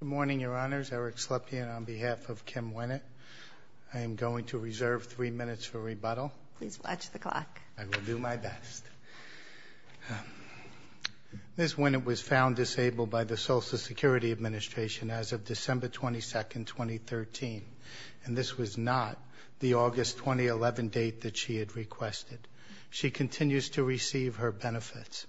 Good morning, Your Honors. Eric Slepian on behalf of Kim Wennet. I am going to reserve three minutes for rebuttal. Please watch the clock. I will do my best. Ms. Wennet was found disabled by the Social Security Administration as of December 22, 2013, and this was not the August 2011 date that she had requested. She continues to receive her benefits.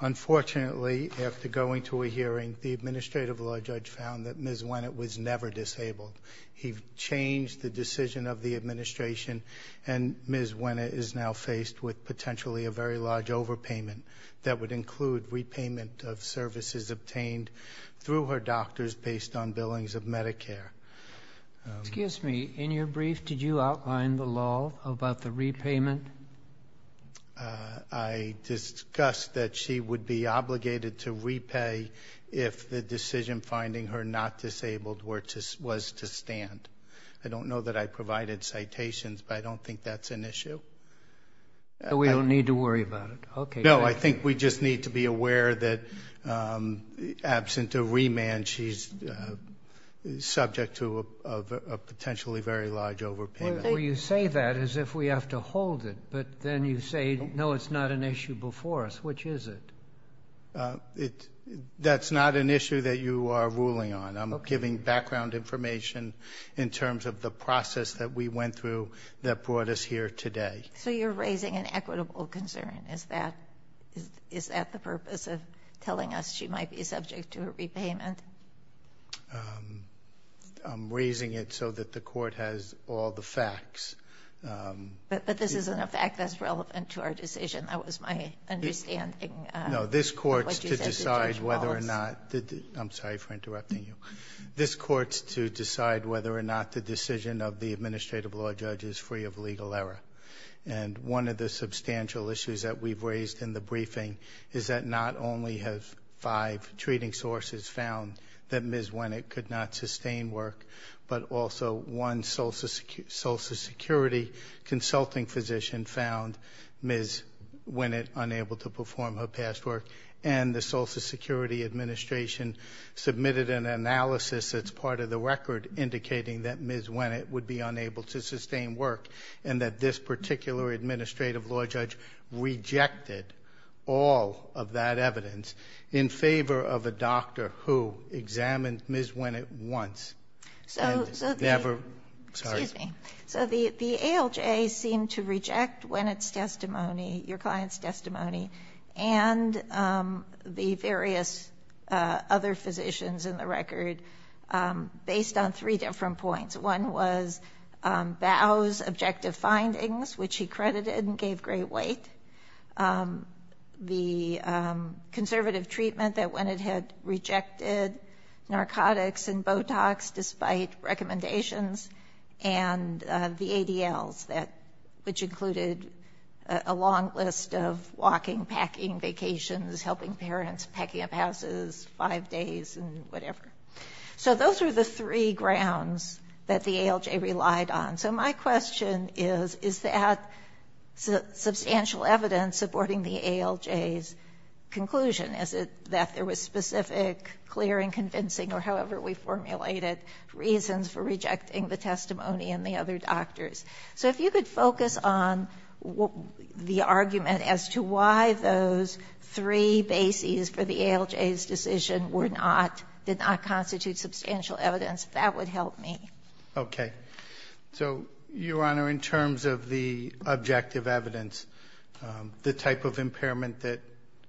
Unfortunately, after going to a hearing, the Administrative Law Judge found that Ms. Wennet was never disabled. He changed the decision of the Administration, and Ms. Wennet is now faced with potentially a very large overpayment that would include repayment of services obtained through her doctors based on billings of Medicare. Excuse me. In your brief, did you outline the law about the repayment? I discussed that she would be obligated to repay if the decision finding her not disabled was to stand. I don't know that I provided citations, but I don't think that's an issue. We don't need to worry about it. No, I think we just need to be aware that absent a remand, she's subject to a potentially very large overpayment. Well, you say that as if we have to hold it, but then you say, no, it's not an issue before us. Which is it? That's not an issue that you are ruling on. I'm giving background information in terms of the process that we went through that brought us here today. So you're raising an equitable concern. Is that the purpose of telling us she might be subject to a repayment? I'm raising it so that the court has all the facts. But this isn't a fact that's relevant to our decision. That was my understanding. No, this court's to decide whether or not the – I'm sorry for interrupting you. This court's to decide whether or not the decision of the administrative law judge is free of legal error. And one of the substantial issues that we've raised in the briefing is that not only have five treating sources found that Ms. Winnett could not sustain work, but also one Social Security consulting physician found Ms. Winnett unable to perform her past work. And the Social Security Administration submitted an analysis that's part of the record indicating that Ms. Winnett would be unable to sustain work and that this particular administrative law judge rejected all of that evidence in favor of a doctor who examined Ms. Winnett once. So the ALJ seemed to reject Winnett's testimony, your client's testimony, and the various other physicians in the record based on three different points. One was BOW's objective findings, which he credited and gave great weight, the conservative treatment that Winnett had rejected, narcotics and Botox despite recommendations, and the ADLs, which included a long list of walking, packing, vacations, helping parents, packing up houses, five days, and whatever. So those were the three grounds that the ALJ relied on. So my question is, is that substantial evidence supporting the ALJ's conclusion? Is it that there was specific, clear, and convincing, or however we formulated, reasons for rejecting the testimony and the other doctors? So if you could focus on the argument as to why those three bases for the ALJ's decision did not constitute substantial evidence, that would help me. Okay. So, Your Honor, in terms of the objective evidence, the type of impairment that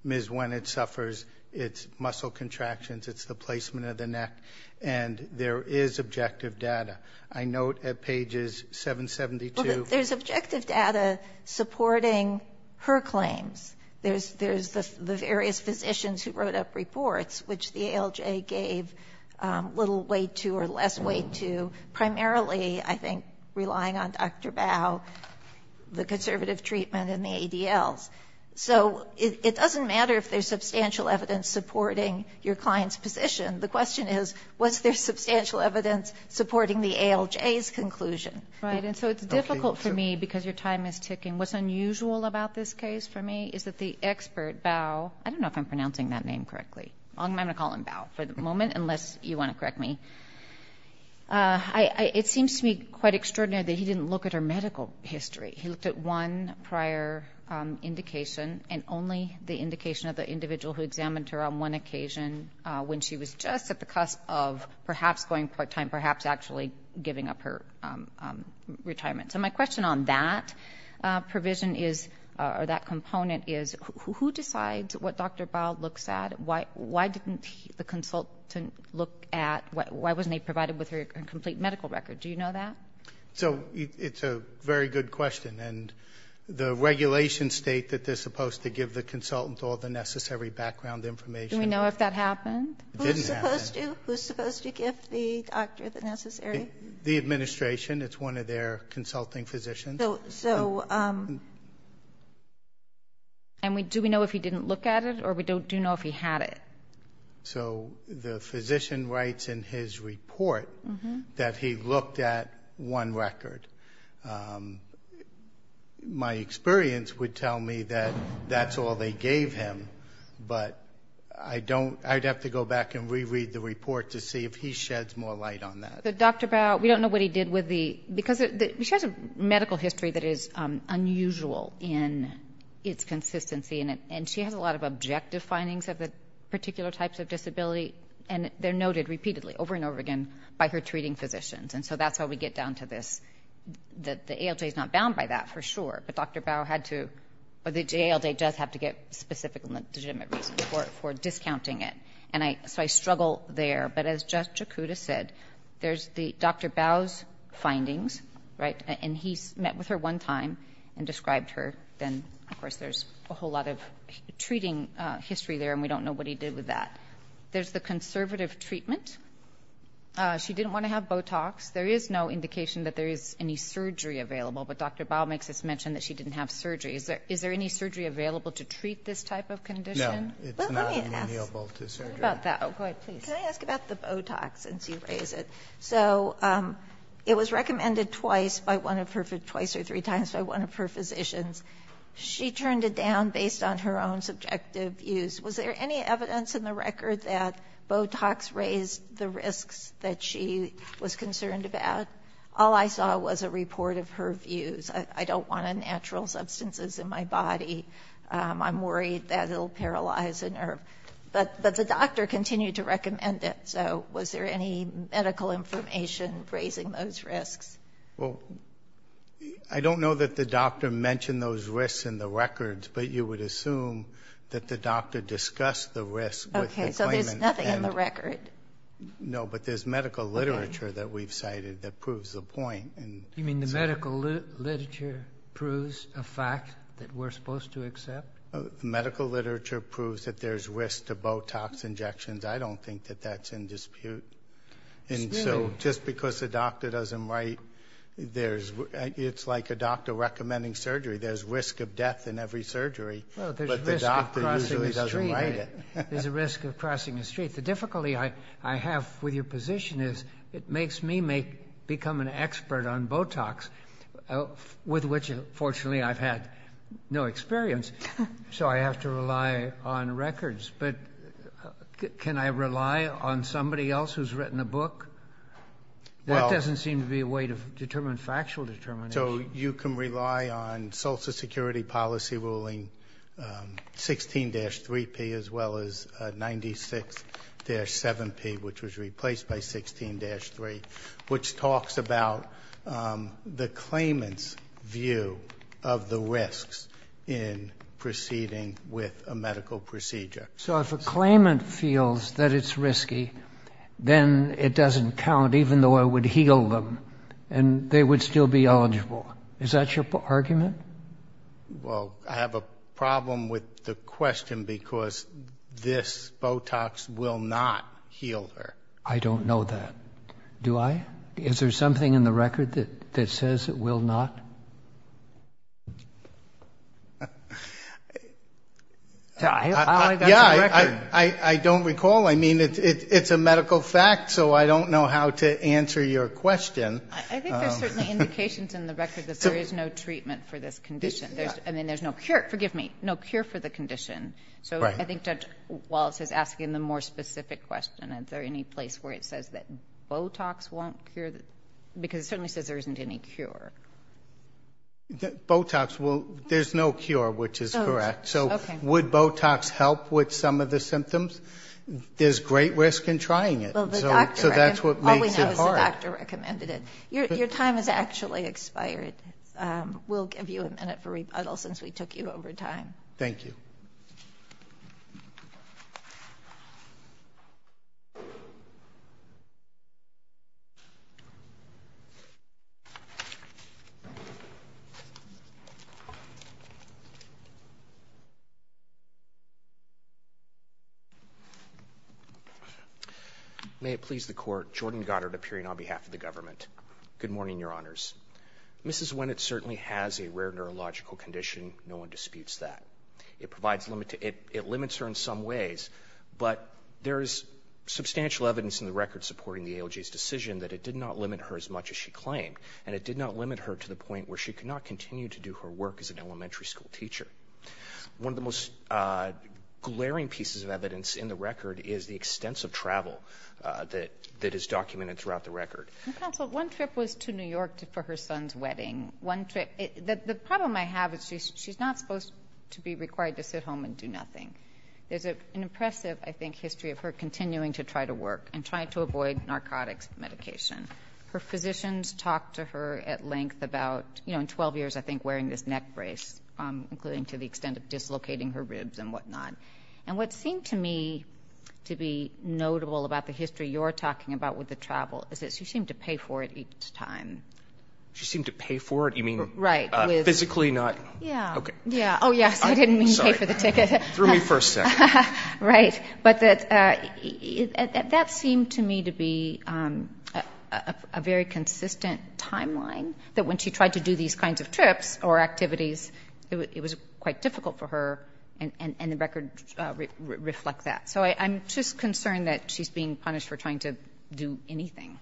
Ms. Winnett suffers, it's muscle contractions, it's the placement of the neck, and there is objective data. I note at pages 772. Well, there's objective data supporting her claims. There's the various physicians who wrote up reports, which the ALJ gave little weight to or less weight to, primarily, I think, relying on Dr. BOW, the conservative treatment, and the ADLs. So it doesn't matter if there's substantial evidence supporting your client's position. The question is, was there substantial evidence supporting the ALJ's conclusion? Right. And so it's difficult for me, because your time is ticking. What's unusual about this case for me is that the expert, BOW, I don't know if I'm pronouncing that name correctly. I'm going to call him BOW for the moment, unless you want to correct me. It seems to me quite extraordinary that he didn't look at her medical history. He looked at one prior indication, and only the indication of the individual who examined her on one occasion when she was just at the cusp of perhaps going part-time, perhaps actually giving up her retirement. So my question on that provision is, or that component is, who decides what Dr. BOW looks at? Why didn't the consultant look at why wasn't he provided with her complete medical record? Do you know that? So it's a very good question. And the regulations state that they're supposed to give the consultant all the necessary background information. Do we know if that happened? It didn't happen. Who's supposed to? Who's supposed to give the doctor the necessary? The administration. It's one of their consulting physicians. So do we know if he didn't look at it, or do we know if he had it? So the physician writes in his report that he looked at one record. My experience would tell me that that's all they gave him, but I'd have to go back and reread the report to see if he sheds more light on that. Dr. BOW, we don't know what he did with the ‑‑ because she has a medical history that is unusual in its consistency, and she has a lot of objective findings of the particular types of disability, and they're noted repeatedly over and over again by her treating physicians. And so that's how we get down to this. The ALJ is not bound by that, for sure, but Dr. BOW had to ‑‑ or the ALJ does have to get specific legitimate reasons for discounting it. And so I struggle there. But as Jeff Jakuda said, there's Dr. BOW's findings, right, and he met with her one time and described her. But then, of course, there's a whole lot of treating history there, and we don't know what he did with that. There's the conservative treatment. She didn't want to have Botox. There is no indication that there is any surgery available, but Dr. BOW makes this mention that she didn't have surgery. Is there any surgery available to treat this type of condition? No. Well, let me ask about that. Go ahead, please. Can I ask about the Botox, since you raise it? So it was recommended twice by one of her ‑‑ twice or three times by one of her physicians. She turned it down based on her own subjective views. Was there any evidence in the record that Botox raised the risks that she was concerned about? All I saw was a report of her views. I don't want unnatural substances in my body. I'm worried that it will paralyze a nerve. But the doctor continued to recommend it. So was there any medical information raising those risks? Well, I don't know that the doctor mentioned those risks in the records, but you would assume that the doctor discussed the risks with the claimant. Okay, so there's nothing in the record. No, but there's medical literature that we've cited that proves the point. You mean the medical literature proves a fact that we're supposed to accept? Medical literature proves that there's risk to Botox injections. I don't think that that's in dispute. And so just because the doctor doesn't write, it's like a doctor recommending surgery. There's risk of death in every surgery, but the doctor usually doesn't write it. There's a risk of crossing the street. The difficulty I have with your position is it makes me become an expert on Botox, with which, fortunately, I've had no experience, so I have to rely on records. But can I rely on somebody else who's written a book? That doesn't seem to be a way to determine factual determination. So you can rely on Social Security Policy Ruling 16-3P as well as 96-7P, which was replaced by 16-3, which talks about the claimant's view of the risks in proceeding with a medical procedure. So if a claimant feels that it's risky, then it doesn't count, even though I would heal them and they would still be eligible. Is that your argument? Well, I have a problem with the question because this Botox will not heal her. I don't know that. Do I? Is there something in the record that says it will not? Yeah, I don't recall. I mean, it's a medical fact, so I don't know how to answer your question. I think there's certainly indications in the record that there is no treatment for this condition. I mean, there's no cure. Forgive me, no cure for the condition. So I think Judge Wallace is asking the more specific question. Is there any place where it says that Botox won't cure? Because it certainly says there isn't any cure. Botox, well, there's no cure, which is correct. So would Botox help with some of the symptoms? There's great risk in trying it, so that's what makes it hard. All we know is the doctor recommended it. Your time has actually expired. We'll give you a minute for rebuttal since we took you over time. Thank you. May it please the Court. Jordan Goddard appearing on behalf of the government. Good morning, Your Honors. Mrs. Winnett certainly has a rare neurological condition. No one disputes that. It limits her in some ways, but there is substantial evidence in the record supporting the ALJ's decision that it did not limit her as much as she claimed, and it did not limit her to the point where she could not continue to do her work as an elementary school teacher. One of the most glaring pieces of evidence in the record is the extensive travel that is documented throughout the record. Counsel, one trip was to New York for her son's wedding. The problem I have is she's not supposed to be required to sit home and do nothing. There's an impressive, I think, history of her continuing to try to work and trying to avoid narcotics medication. Her physicians talked to her at length about, you know, in 12 years, I think, wearing this neck brace, including to the extent of dislocating her ribs and whatnot. And what seemed to me to be notable about the history you're talking about with the travel is that she seemed to pay for it each time. She seemed to pay for it? You mean physically not? Yeah. Oh, yes. I didn't mean pay for the ticket. Sorry. Threw me for a second. Right. But that seemed to me to be a very consistent timeline, that when she tried to do these kinds of trips or activities, it was quite difficult for her, and the record reflects that. So I'm just concerned that she's being punished for trying to do anything.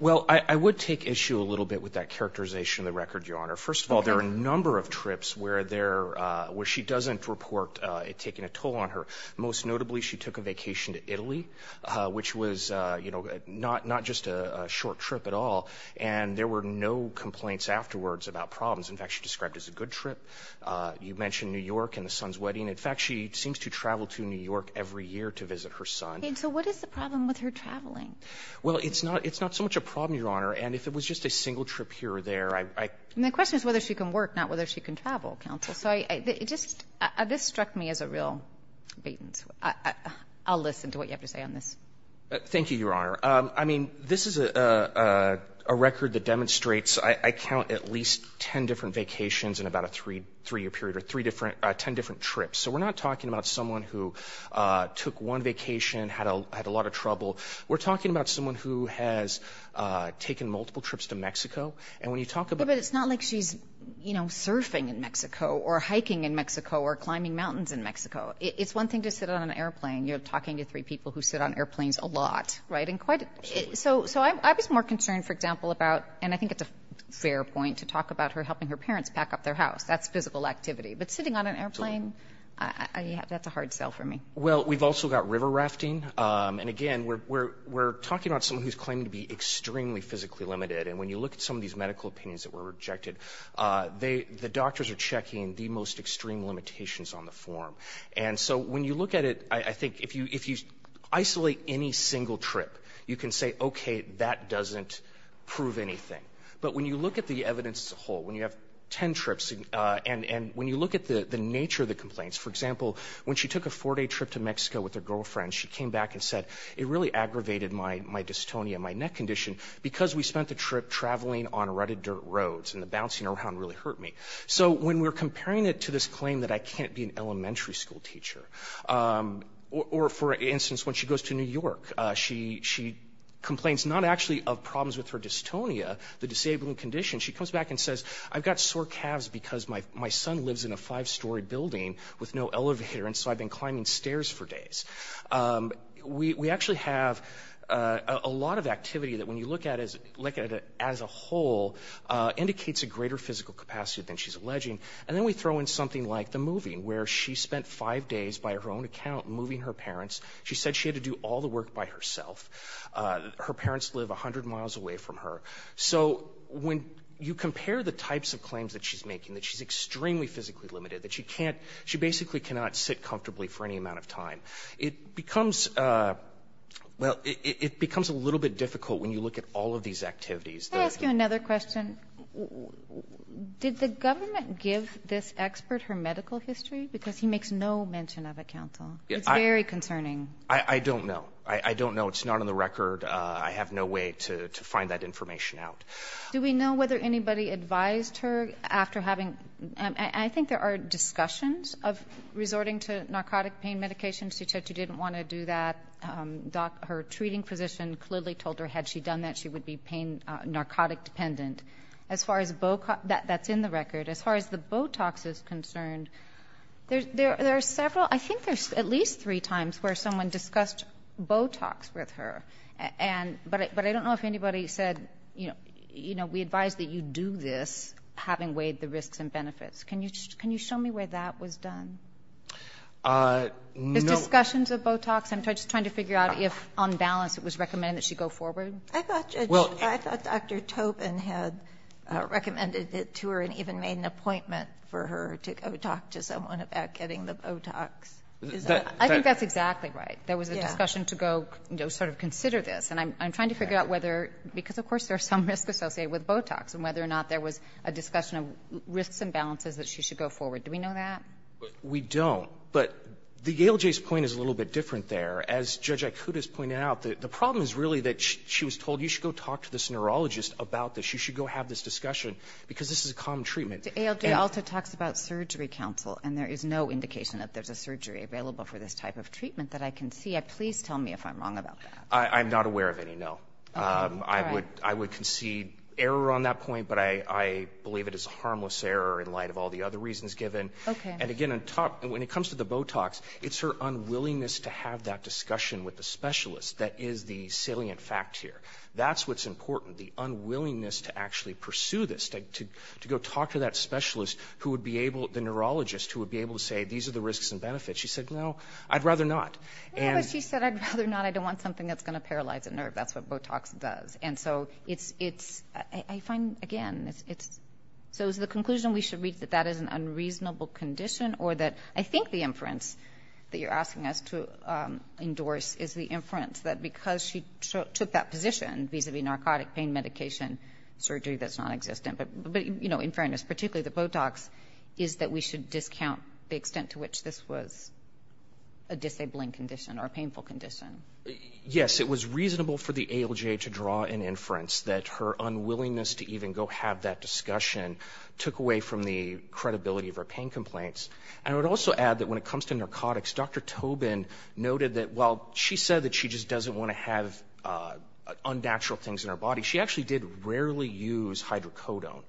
Well, I would take issue a little bit with that characterization of the record, Your Honor. First of all, there are a number of trips where she doesn't report it taking a toll on her. Most notably, she took a vacation to Italy, which was, you know, not just a short trip at all, and there were no complaints afterwards about problems. In fact, she described it as a good trip. You mentioned New York and the son's wedding. In fact, she seems to travel to New York every year to visit her son. And so what is the problem with her traveling? Well, it's not so much a problem, Your Honor. And if it was just a single trip here or there, I — And the question is whether she can work, not whether she can travel, counsel. So it just — this struck me as a real — I'll listen to what you have to say on this. Thank you, Your Honor. I mean, this is a record that demonstrates — I count at least 10 different vacations in about a three-year period, or 10 different trips. So we're not talking about someone who took one vacation, had a lot of trouble. We're talking about someone who has taken multiple trips to Mexico. And when you talk about — But it's not like she's, you know, surfing in Mexico or hiking in Mexico or climbing mountains in Mexico. It's one thing to sit on an airplane. You're talking to three people who sit on airplanes a lot, right? And quite — so I was more concerned, for example, about — and I think it's a fair point to talk about her helping her parents pack up their house. That's physical activity. But sitting on an airplane, that's a hard sell for me. Well, we've also got river rafting. And again, we're talking about someone who's claiming to be extremely physically limited. And when you look at some of these medical opinions that were rejected, they — the doctors are checking the most extreme limitations on the form. And so when you look at it, I think if you isolate any single trip, you can say, okay, that doesn't prove anything. But when you look at the evidence as a whole, when you have 10 trips, and when you look at the nature of the complaints, for example, when she took a four-day trip to Mexico with her girlfriend, she came back and said, it really aggravated my dystonia, my neck condition, because we spent the trip traveling on rutted dirt roads, and the bouncing around really hurt me. So when we're comparing it to this claim that I can't be an elementary school teacher, or for instance, when she goes to New York, she complains not actually of problems with her dystonia, the disabling condition. She comes back and says, I've got sore calves because my son lives in a five-story building with no elevator. And so I've been climbing stairs for days. We actually have a lot of activity that, when you look at it as a whole, indicates a greater physical capacity than she's alleging. And then we throw in something like the moving, where she spent five days, by her own account, moving her parents. She said she had to do all the work by herself. Her parents live 100 miles away from her. So when you compare the types of claims that she's making, that she's extremely physically limited, that she basically cannot sit comfortably for any amount of time, it becomes a little bit difficult when you look at all of these activities. Can I ask you another question? Did the government give this expert her medical history? Because he makes no mention of it, counsel. It's very concerning. I don't know. I don't know. It's not on the record. I have no way to find that information out. Do we know whether anybody advised her after having, I think there are discussions of resorting to narcotic pain medication. She said she didn't want to do that. Her treating physician clearly told her, had she done that, she would be narcotic dependent. As far as, that's in the record. As far as the Botox is concerned, there are several, I think there's at least three times where someone discussed Botox with her. But I don't know if anybody said, you know, we advise that you do this, having weighed the risks and benefits. Can you show me where that was done? The discussions of Botox? I'm just trying to figure out if on balance it was recommended that she go forward. I thought Dr. Tobin had recommended it to her and even made an appointment for her to go talk to someone about getting the Botox. I think that's exactly right. There was a discussion to go, you know, sort of consider this. And I'm trying to figure out whether, because, of course, there are some risks associated with Botox, and whether or not there was a discussion of risks and balances that she should go forward. Do we know that? We don't. But the ALJ's point is a little bit different there. As Judge Ikuta has pointed out, the problem is really that she was told, you should go talk to this neurologist about this. You should go have this discussion, because this is a common treatment. The ALJ also talks about surgery counsel, and there is no indication that there's available for this type of treatment that I can see. Please tell me if I'm wrong about that. I'm not aware of any, no. All right. I would concede error on that point, but I believe it is a harmless error in light of all the other reasons given. Okay. And, again, when it comes to the Botox, it's her unwillingness to have that discussion with the specialist that is the salient fact here. That's what's important, the unwillingness to actually pursue this, to go talk to that specialist who would be able, the neurologist, who would be able to say, these are the risks and benefits. She said, no, I'd rather not. But she said, I'd rather not. I don't want something that's going to paralyze a nerve. That's what Botox does. And so it's, I find, again, it's, so is the conclusion we should read that that is an unreasonable condition, or that, I think the inference that you're asking us to endorse is the inference that because she took that position vis-a-vis narcotic pain medication surgery that's nonexistent. But, you know, in fairness, particularly the Botox, is that we should discount the extent to which this was a disabling condition or a painful condition. Yes. It was reasonable for the ALJ to draw an inference that her unwillingness to even go have that discussion took away from the credibility of her pain complaints. And I would also add that when it comes to narcotics, Dr. Tobin noted that while she said that she just doesn't want to have unnatural things in her body, she actually did rarely use hydrocodone.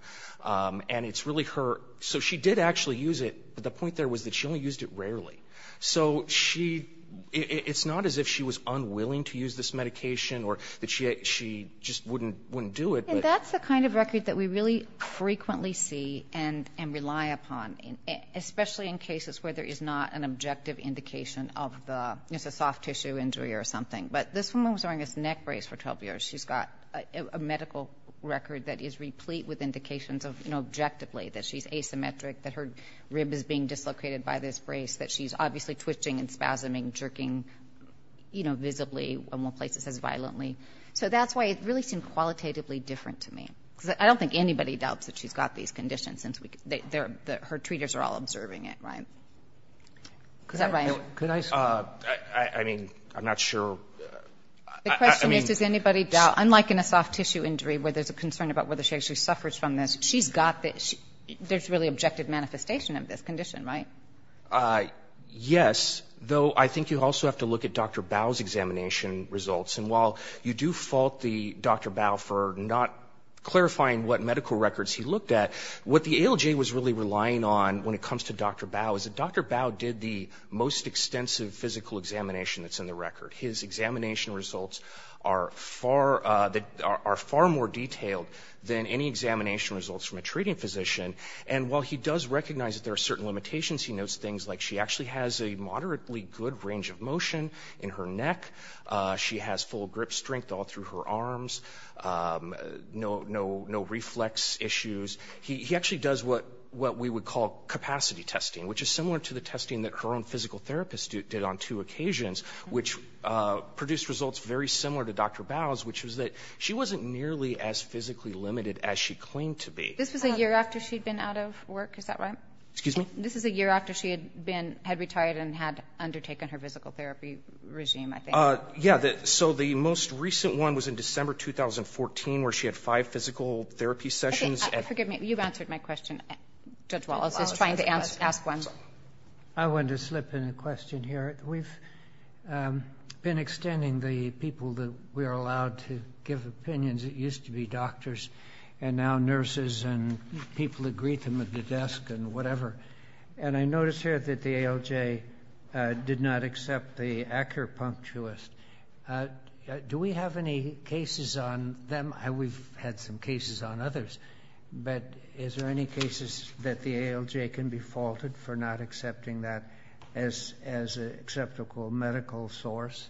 And it's really her, so she did actually use it, but the point there was that she only used it rarely. So she, it's not as if she was unwilling to use this medication or that she just wouldn't do it. And that's the kind of record that we really frequently see and rely upon, especially in But this woman was wearing this neck brace for 12 years. She's got a medical record that is replete with indications of, you know, objectively that she's asymmetric, that her rib is being dislocated by this brace, that she's obviously twitching and spasming, jerking, you know, visibly, and will place this as violently. So that's why it really seemed qualitatively different to me. Because I don't think anybody doubts that she's got these conditions since her treaters are all observing it, right? Is that right? I mean, I'm not sure. The question is, does anybody doubt, unlike in a soft tissue injury where there's a concern about whether she actually suffers from this, she's got this, there's really objective manifestation of this condition, right? Yes, though I think you also have to look at Dr. Bao's examination results. And while you do fault Dr. Bao for not clarifying what medical records he looked at, what he does is he does the most extensive physical examination that's in the record. His examination results are far more detailed than any examination results from a treating physician. And while he does recognize that there are certain limitations, he notes things like she actually has a moderately good range of motion in her neck, she has full grip strength all through her arms, no reflex issues. He actually does what we would call capacity testing, which is similar to the testing that her own physical therapist did on two occasions, which produced results very similar to Dr. Bao's, which was that she wasn't nearly as physically limited as she claimed to be. This was a year after she'd been out of work. Is that right? Excuse me? This is a year after she had been, had retired and had undertaken her physical therapy regime, I think. Yeah, so the most recent one was in December 2014, where she had five physical therapy sessions. Okay, forgive me. You've answered my question. Judge Wallace is trying to ask one. I wanted to slip in a question here. We've been extending the people that we are allowed to give opinions. It used to be doctors and now nurses and people who greet them at the desk and whatever. And I notice here that the ALJ did not accept the acupuncturist. Do we have any cases on them? We've had some cases on others. But is there any cases that the ALJ can be faulted for not accepting that as an acceptable medical source?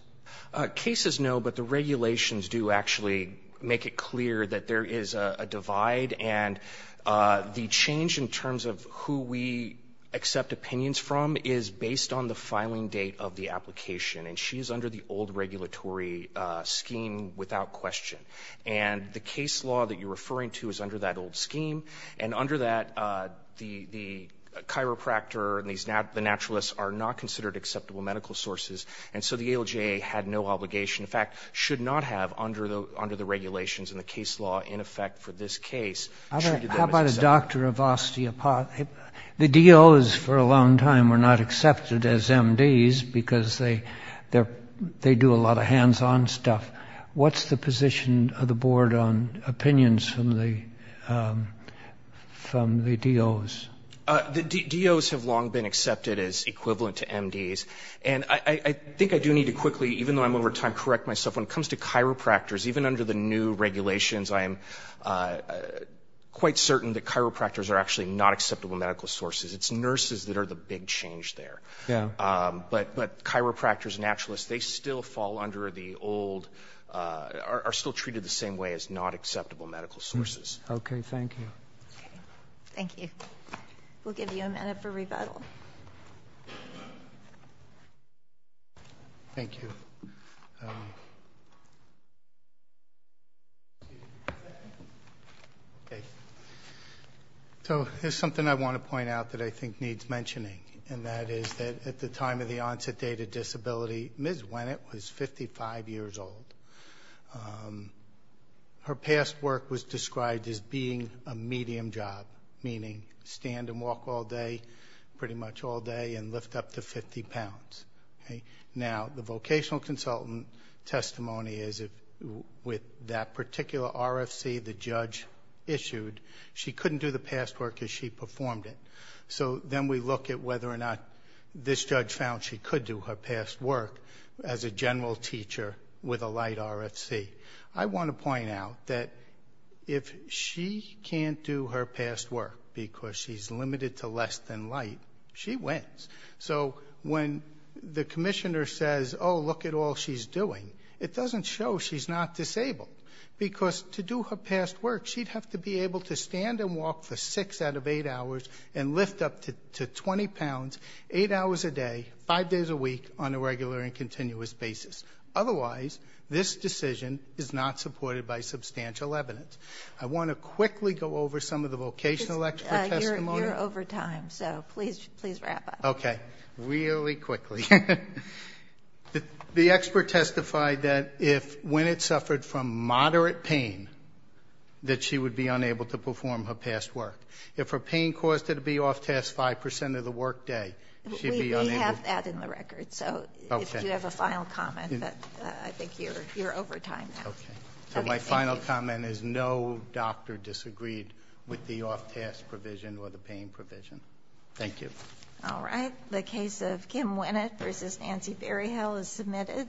Cases, no. But the regulations do actually make it clear that there is a divide. And the change in terms of who we accept opinions from is based on the filing date of the application. And she is under the old regulatory scheme without question. And the case law that you're referring to is under that old scheme. And under that, the chiropractor and the naturalists are not considered acceptable medical sources. And so the ALJ had no obligation, in fact, should not have under the regulations in the case law in effect for this case. How about a doctor of osteopathic? The DOs for a long time were not accepted as MDs because they do a lot of hands-on stuff. What's the position of the board on opinions from the DOs? The DOs have long been accepted as equivalent to MDs. And I think I do need to quickly, even though I'm over time, correct myself. When it comes to chiropractors, even under the new regulations, I am quite certain that chiropractors are actually not acceptable medical sources. It's nurses that are the big change there. But chiropractors and naturalists, they still fall under the old, are still treated the same way as not acceptable medical sources. Okay. Thank you. Thank you. We'll give you a minute for rebuttal. Thank you. So there's something I want to point out that I think needs mentioning, and that is that at the time of the onset date of disability, Ms. Winnett was 55 years old. Her past work was described as being a medium job, meaning stand and walk all day, pretty much all day, and lift up to 50 pounds. Now, the vocational consultant testimony is with that particular RFC the judge issued, she couldn't do the past work as she performed it. So then we look at whether or not this judge found she could do her past work as a general teacher with a light RFC. I want to point out that if she can't do her past work because she's limited to less than light, she wins. So when the commissioner says, oh, look at all she's doing, it doesn't show she's not disabled, because to do her past work, she'd have to be able to stand and walk for six out of eight hours and lift up to 20 pounds eight hours a day, five days a week on a regular and continuous basis. Otherwise, this decision is not supported by substantial evidence. I want to quickly go over some of the vocational expert testimony. You're over time, so please wrap up. Okay. Really quickly. The expert testified that if when it suffered from moderate pain, that she would be unable to perform her past work. If her pain caused her to be off task 5% of the work day, she'd be unable. We have that in the record, so if you have a final comment, but I think you're over time now. Okay. So my final comment is no doctor disagreed with the off task provision or the pain provision. Thank you. All right. The case of Kim Winnett versus Nancy Berryhill is submitted.